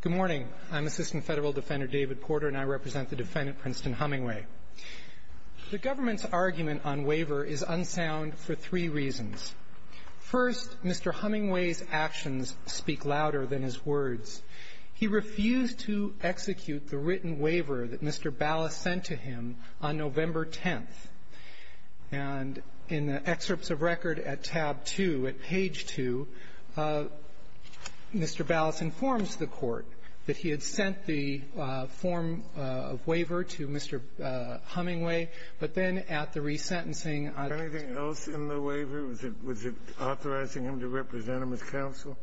Good morning. I'm Assistant Federal Defender David Porter and I represent the defendant, Princeton Hummingway. The government's argument on waiver is unsound for three reasons. First, Mr. Hummingway's actions speak louder than his words. He refused to execute the written waiver that Mr. Ballas sent to him on November 10th. And in the excerpts of record at tab 2, at page 2, Mr. Ballas informs the Court that he had sent the form of waiver to Mr. Hummingway, but then at the resentencing I don't know. Was there anything else in the waiver? Was it authorizing him to represent him as counsel?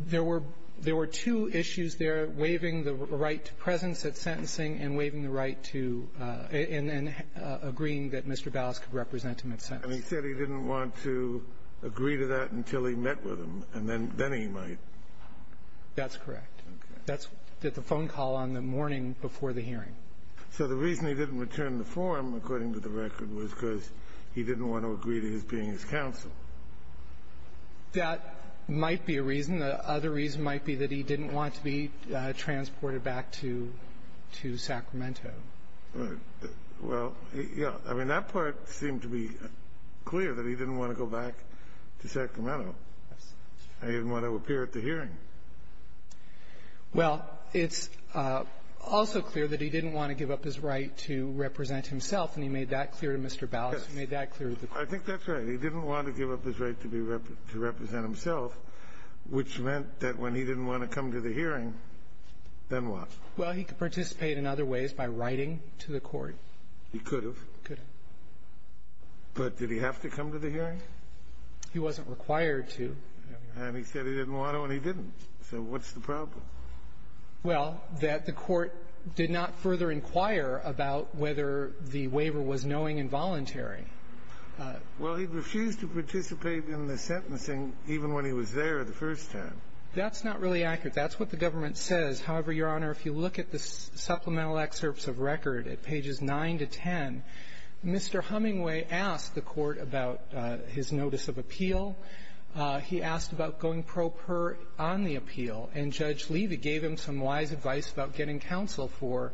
There were two issues there, waiving the right to presence at sentencing and waiving the right to and agreeing that Mr. Ballas could represent him at sentence. And he said he didn't want to agree to that until he met with him, and then he might. That's correct. Okay. That's the phone call on the morning before the hearing. So the reason he didn't return the form, according to the record, was because he didn't want to agree to his being his counsel. That might be a reason. The other reason might be that he didn't want to be transported back to Sacramento. Right. Well, yeah. I mean, that part seemed to be clear, that he didn't want to go back to Sacramento. Yes. He didn't want to appear at the hearing. Well, it's also clear that he didn't want to give up his right to represent himself. And he made that clear to Mr. Ballas. He made that clear to the Court. I think that's right. But he didn't want to give up his right to represent himself, which meant that when he didn't want to come to the hearing, then what? Well, he could participate in other ways by writing to the Court. He could have. He could have. But did he have to come to the hearing? He wasn't required to. And he said he didn't want to, and he didn't. So what's the problem? Well, that the Court did not further inquire about whether the waiver was knowing and voluntary. Well, he refused to participate in the sentencing even when he was there the first time. That's not really accurate. That's what the government says. However, Your Honor, if you look at the supplemental excerpts of record at pages 9 to 10, Mr. Hummingway asked the Court about his notice of appeal. He asked about going pro per on the appeal. And Judge Levy gave him some wise advice about getting counsel for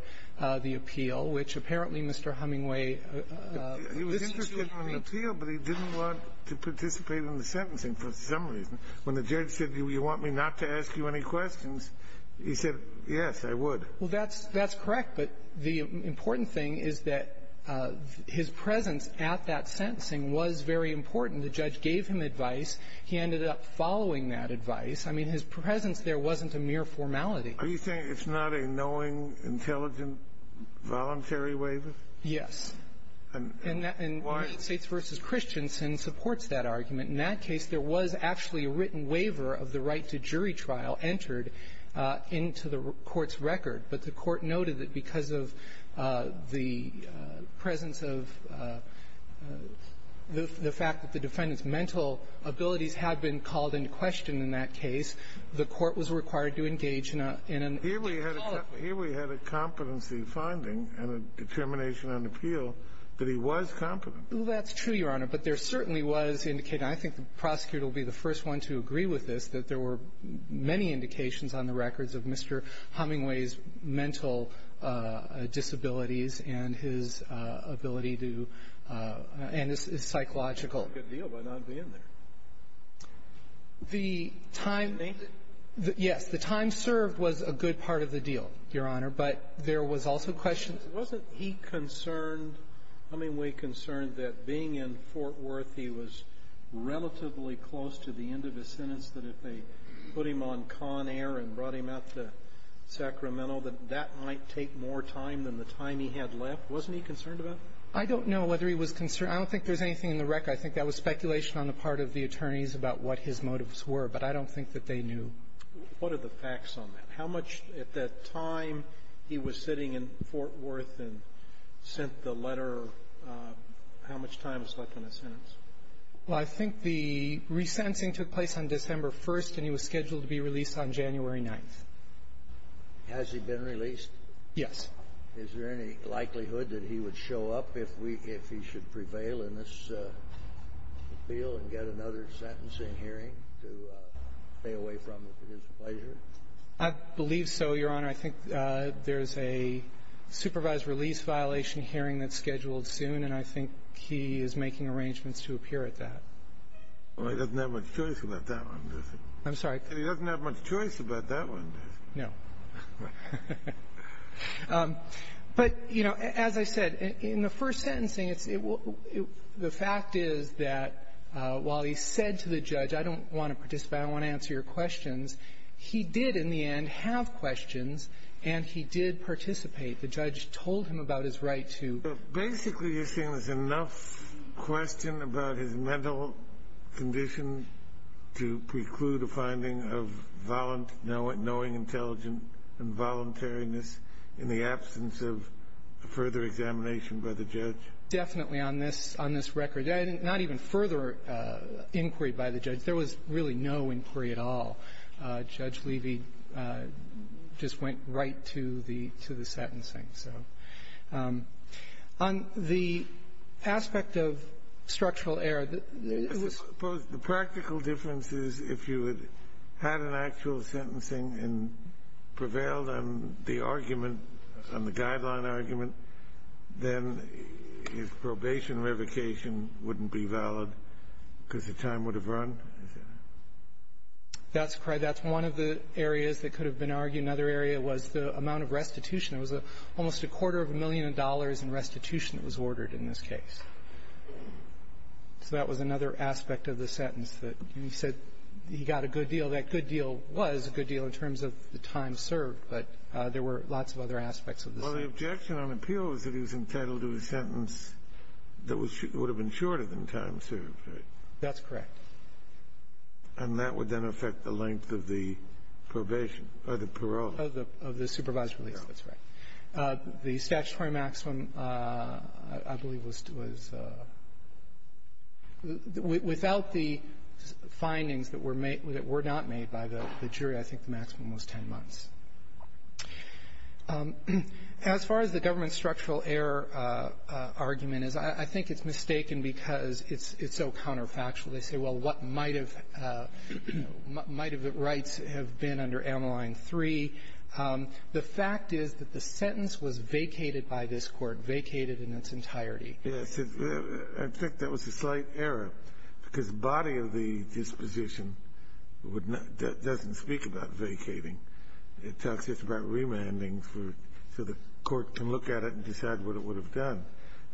the appeal, which apparently Mr. Hummingway was interested in. He was interested in the appeal, but he didn't want to participate in the sentencing for some reason. When the judge said, you want me not to ask you any questions, he said, yes, I would. Well, that's correct. But the important thing is that his presence at that sentencing was very important. The judge gave him advice. He ended up following that advice. I mean, his presence there wasn't a mere formality. Are you saying it's not a knowing, intelligent, voluntary waiver? Yes. And why? And United States v. Christensen supports that argument. In that case, there was actually a written waiver of the right to jury trial entered into the Court's record. But the Court noted that because of the presence of the fact that the defendant's mental abilities had been called into question in that case, the Court was required to engage in a qualified way. But here we had a competency finding and a determination on appeal that he was competent. Well, that's true, Your Honor. But there certainly was indication. I think the prosecutor will be the first one to agree with this, that there were many indications on the records of Mr. Hummingway's mental disabilities and his ability to and his psychological. That's a good deal by not being there. The time he served was a good part of the deal, Your Honor, but there was also questions Wasn't he concerned, Hummingway concerned, that being in Fort Worth, he was relatively close to the end of his sentence, that if they put him on con air and brought him out to Sacramento, that that might take more time than the time he had left? Wasn't he concerned about that? I don't know whether he was concerned. I don't think there's anything in the record. I think that was speculation on the part of the attorneys about what his motives were, but I don't think that they knew. What are the facts on that? How much at that time he was sitting in Fort Worth and sent the letter, how much time is left on his sentence? Well, I think the resentencing took place on December 1st, and he was scheduled to be released on January 9th. Has he been released? Yes. Is there any likelihood that he would show up if we – if he should prevail in this appeal and get another sentencing hearing to stay away from it at his pleasure? I believe so, Your Honor. I think there's a supervised release violation hearing that's scheduled soon, and I think he is making arrangements to appear at that. Well, he doesn't have much choice about that one, does he? I'm sorry. He doesn't have much choice about that one, does he? No. But, you know, as I said, in the first sentencing, it's – the fact is that while he said to the judge, I don't want to participate, I want to answer your questions, he did in the end have questions, and he did participate. The judge told him about his right to – Basically, you're saying there's enough question about his mental condition to preclude a finding of knowing intelligent involuntariness in the absence of a further examination by the judge? Definitely on this – on this record. Not even further inquiry by the judge. There was really no inquiry at all. Judge Levy just went right to the – to the sentencing. So on the aspect of structural error, there was – Suppose the practical difference is if you had had an actual sentencing and prevailed on the argument, on the guideline argument, then his probation revocation wouldn't be valid because the time would have run? That's correct. That's one of the areas that could have been argued. Another area was the amount of restitution. There was almost a quarter of a million dollars in restitution that was ordered in this case. So that was another aspect of the sentence that he said he got a good deal. That good deal was a good deal in terms of the time served, but there were lots of other aspects of the sentence. Well, the objection on appeal is that he was entitled to a sentence that would have been shorter than time served, right? That's correct. And that would then affect the length of the probation or the parole? Of the supervised release. That's right. The statutory maximum, I believe, was – without the findings that were made – that were not made by the jury, I think the maximum was 10 months. As far as the government structural error argument is, I think it's mistaken because it's so counterfactual. They say, well, what might have – you know, what might have the rights have been under Ameline 3? The fact is that the sentence was vacated by this Court, vacated in its entirety. Yes. I think that was a slight error because the body of the disposition would not – doesn't speak about vacating. It talks just about remanding for – so the Court can look at it and decide what it would have done.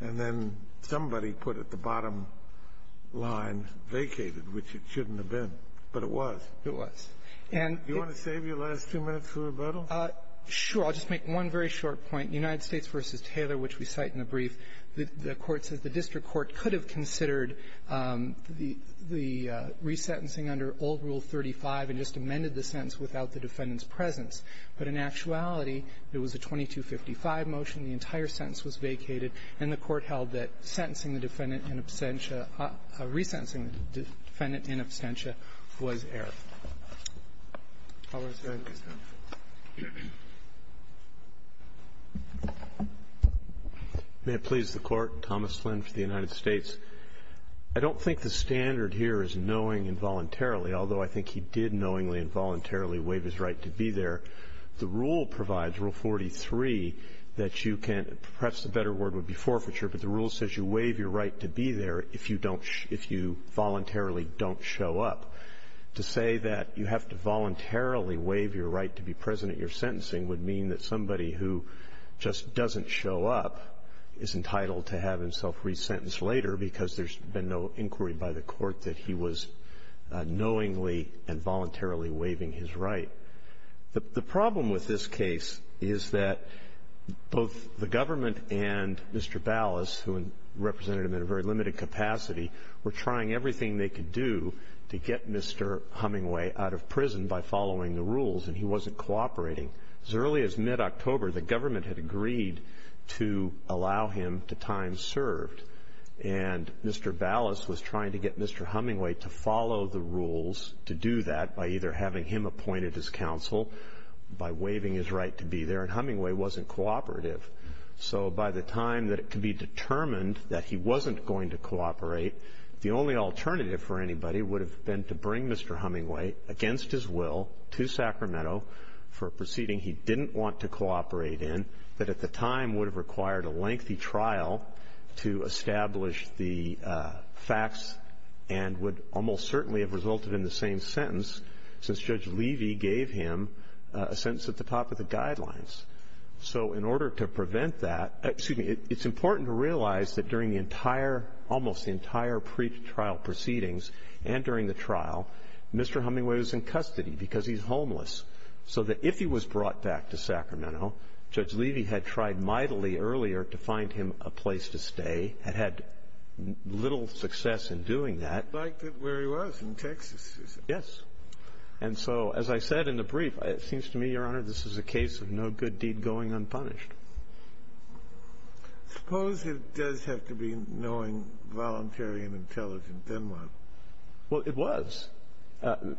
And then somebody put at the bottom line, vacated, which it shouldn't have been. But it was. It was. And it – Do you want to save your last two minutes for rebuttal? Sure. I'll just make one very short point. United States v. Taylor, which we cite in the brief, the Court says the district court could have considered the – the resentencing under old Rule 35 and just amended the sentence without the defendant's presence. But in actuality, it was a 2255 motion. The entire sentence was vacated. And the Court held that sentencing the defendant in absentia – resentencing the defendant in absentia was error. I'll answer that. May it please the Court. Thomas Flynn for the United States. I don't think the standard here is knowing involuntarily, although I think he did knowingly and voluntarily waive his right to be there. The rule provides, Rule 43, that you can – perhaps a better word would be forfeiture, but the rule says you waive your right to be there if you don't – if you voluntarily don't show up. To say that you have to voluntarily waive your right to be present at your sentencing would mean that somebody who just doesn't show up is entitled to have himself resentenced later because there's been no inquiry by the Court that he was knowingly and voluntarily waiving his right. The problem with this case is that both the government and Mr. Ballas, who represented him in a very limited capacity, were trying everything they could do to get Mr. Hummingway out of prison by following the rules, and he wasn't cooperating. As early as mid-October, the government had agreed to allow him to time served, and Mr. Ballas was trying to get Mr. Hummingway to follow the rules to do that by either having him appointed as counsel by waiving his right to be there, and Hummingway wasn't cooperative. So by the time that it could be determined that he wasn't going to cooperate, the only alternative for anybody would have been to bring Mr. Hummingway against his will to Sacramento for a proceeding he didn't want to cooperate in that at the time would have required a lengthy trial to establish the facts and would almost certainly have resulted in the same sentence since Judge Levy gave him a sentence at the top of the guidelines. So in order to prevent that, excuse me, it's important to realize that during the entire, almost the entire pre-trial proceedings and during the trial, Mr. Hummingway was in custody because he's homeless. So that if he was brought back to Sacramento, Judge Levy had tried mightily earlier to find him a place to stay, had had little success in doing that. He liked it where he was, in Texas, is it? Yes. And so as I said in the brief, it seems to me, Your Honor, this is a case of no good deed going unpunished. Suppose it does have to be knowing, voluntary, and intelligent, then what? Well, it was.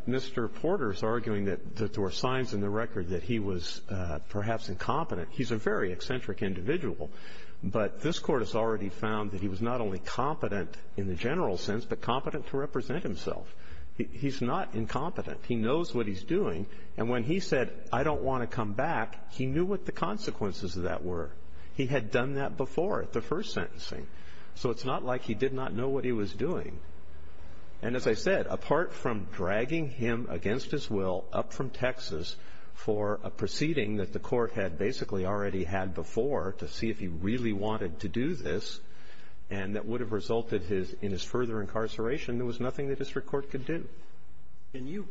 Mr. Porter's arguing that there were signs in the record that he was perhaps incompetent. He's a very eccentric individual, but this Court has already found that he was not only competent in the general sense, but competent to represent himself. He's not incompetent. He knows what he's doing. And when he said, I don't want to come back, he knew what the consequences of that were. He had done that before, at the first sentencing. So it's not like he did not know what he was doing. And as I said, apart from dragging him against his will, up from Texas, for a proceeding that the Court had basically already had before to see if he really wanted to do this, and that would have resulted in his further incarceration, there was nothing the district court could do. Can you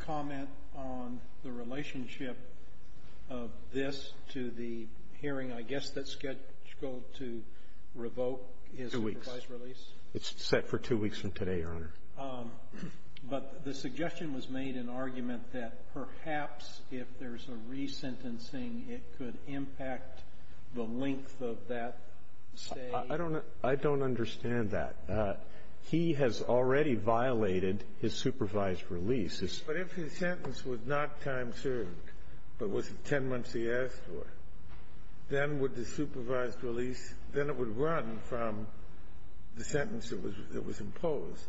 comment on the relationship of this to the hearing, I guess, that's scheduled to revoke his revised release? Two weeks. It's set for two weeks from today, Your Honor. But the suggestion was made in argument that perhaps if there's a resentencing, it could impact the length of that stay. I don't understand that. He has already violated his supervised release. But if his sentence was not time served, but was it 10 months he asked for, then would the supervised release, then it would run from the sentence that was imposed.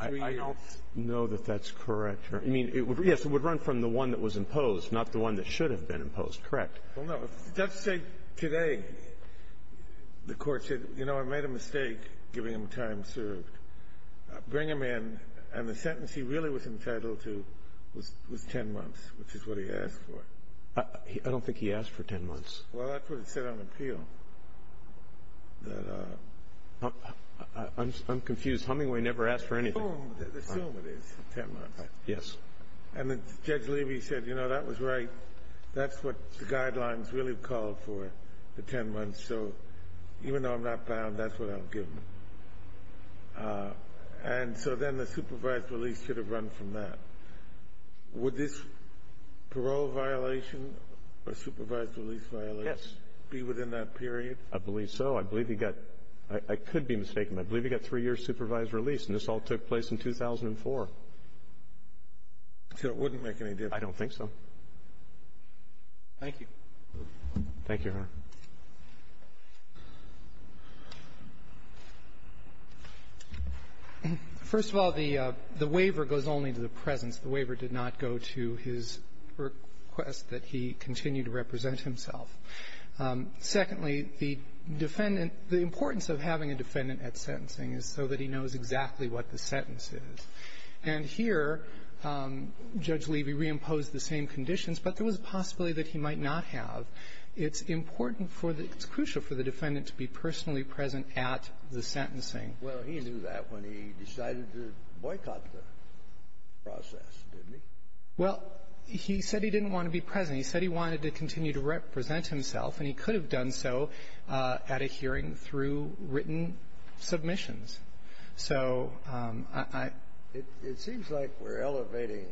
I don't know that that's correct. I mean, yes, it would run from the one that was imposed, not the one that should have been imposed. Correct. Well, no, the judge said today, the Court said, you know, I made a mistake giving him time served. Bring him in, and the sentence he really was entitled to was 10 months, which is what he asked for. I don't think he asked for 10 months. Well, that's what it said on appeal, that uh... I'm confused. Hummingway never asked for anything. Assume it is 10 months. Yes. And then Judge Levy said, you know, that was right. That's what the guidelines really called for, the 10 months. So even though I'm not bound, that's what I'm given. And so then the supervised release should have run from that. Would this parole violation or supervised release violence be within that period? I believe so. I believe he got, I could be mistaken, I believe he got three years supervised release, and this all took place in 2004. So it wouldn't make any difference. I don't think so. Thank you. Thank you, Your Honor. First of all, the waiver goes only to the presence. The waiver did not go to his request that he continue to represent himself. Secondly, the defendant, the importance of having a defendant at sentencing is so that he knows exactly what the sentence is. And here, Judge Levy reimposed the same conditions, but there was a possibility that he might not have. It's important for the – it's crucial for the defendant to be personally present at the sentencing. Well, he knew that when he decided to boycott the process, didn't he? Well, he said he didn't want to be present. He said he wanted to continue to represent himself, and he could have done so at a hearing and through written submissions. So I – It seems like we're elevating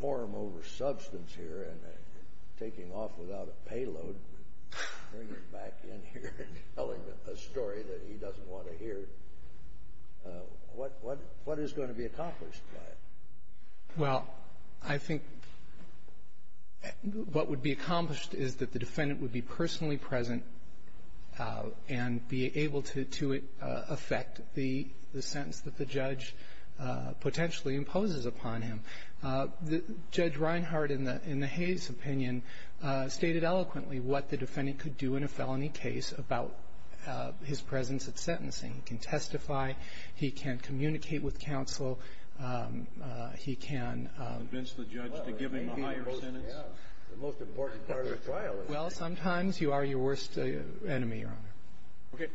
form over substance here and taking off without a payload, bringing back in here and telling a story that he doesn't want to hear. What is going to be accomplished by it? Well, I think what would be accomplished is that the defendant would be personally present and be able to affect the sentence that the judge potentially imposes upon him. Judge Reinhart, in the Hayes opinion, stated eloquently what the defendant could do in a felony case about his presence at sentencing. He can testify. He can communicate with counsel. He can – Convince the judge to give him a higher sentence. The most important part of the trial is – Well, sometimes you are your worst enemy, Your Honor. Okay.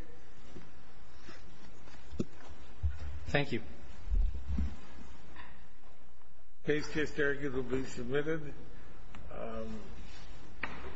Thank you. The case case argument will be submitted.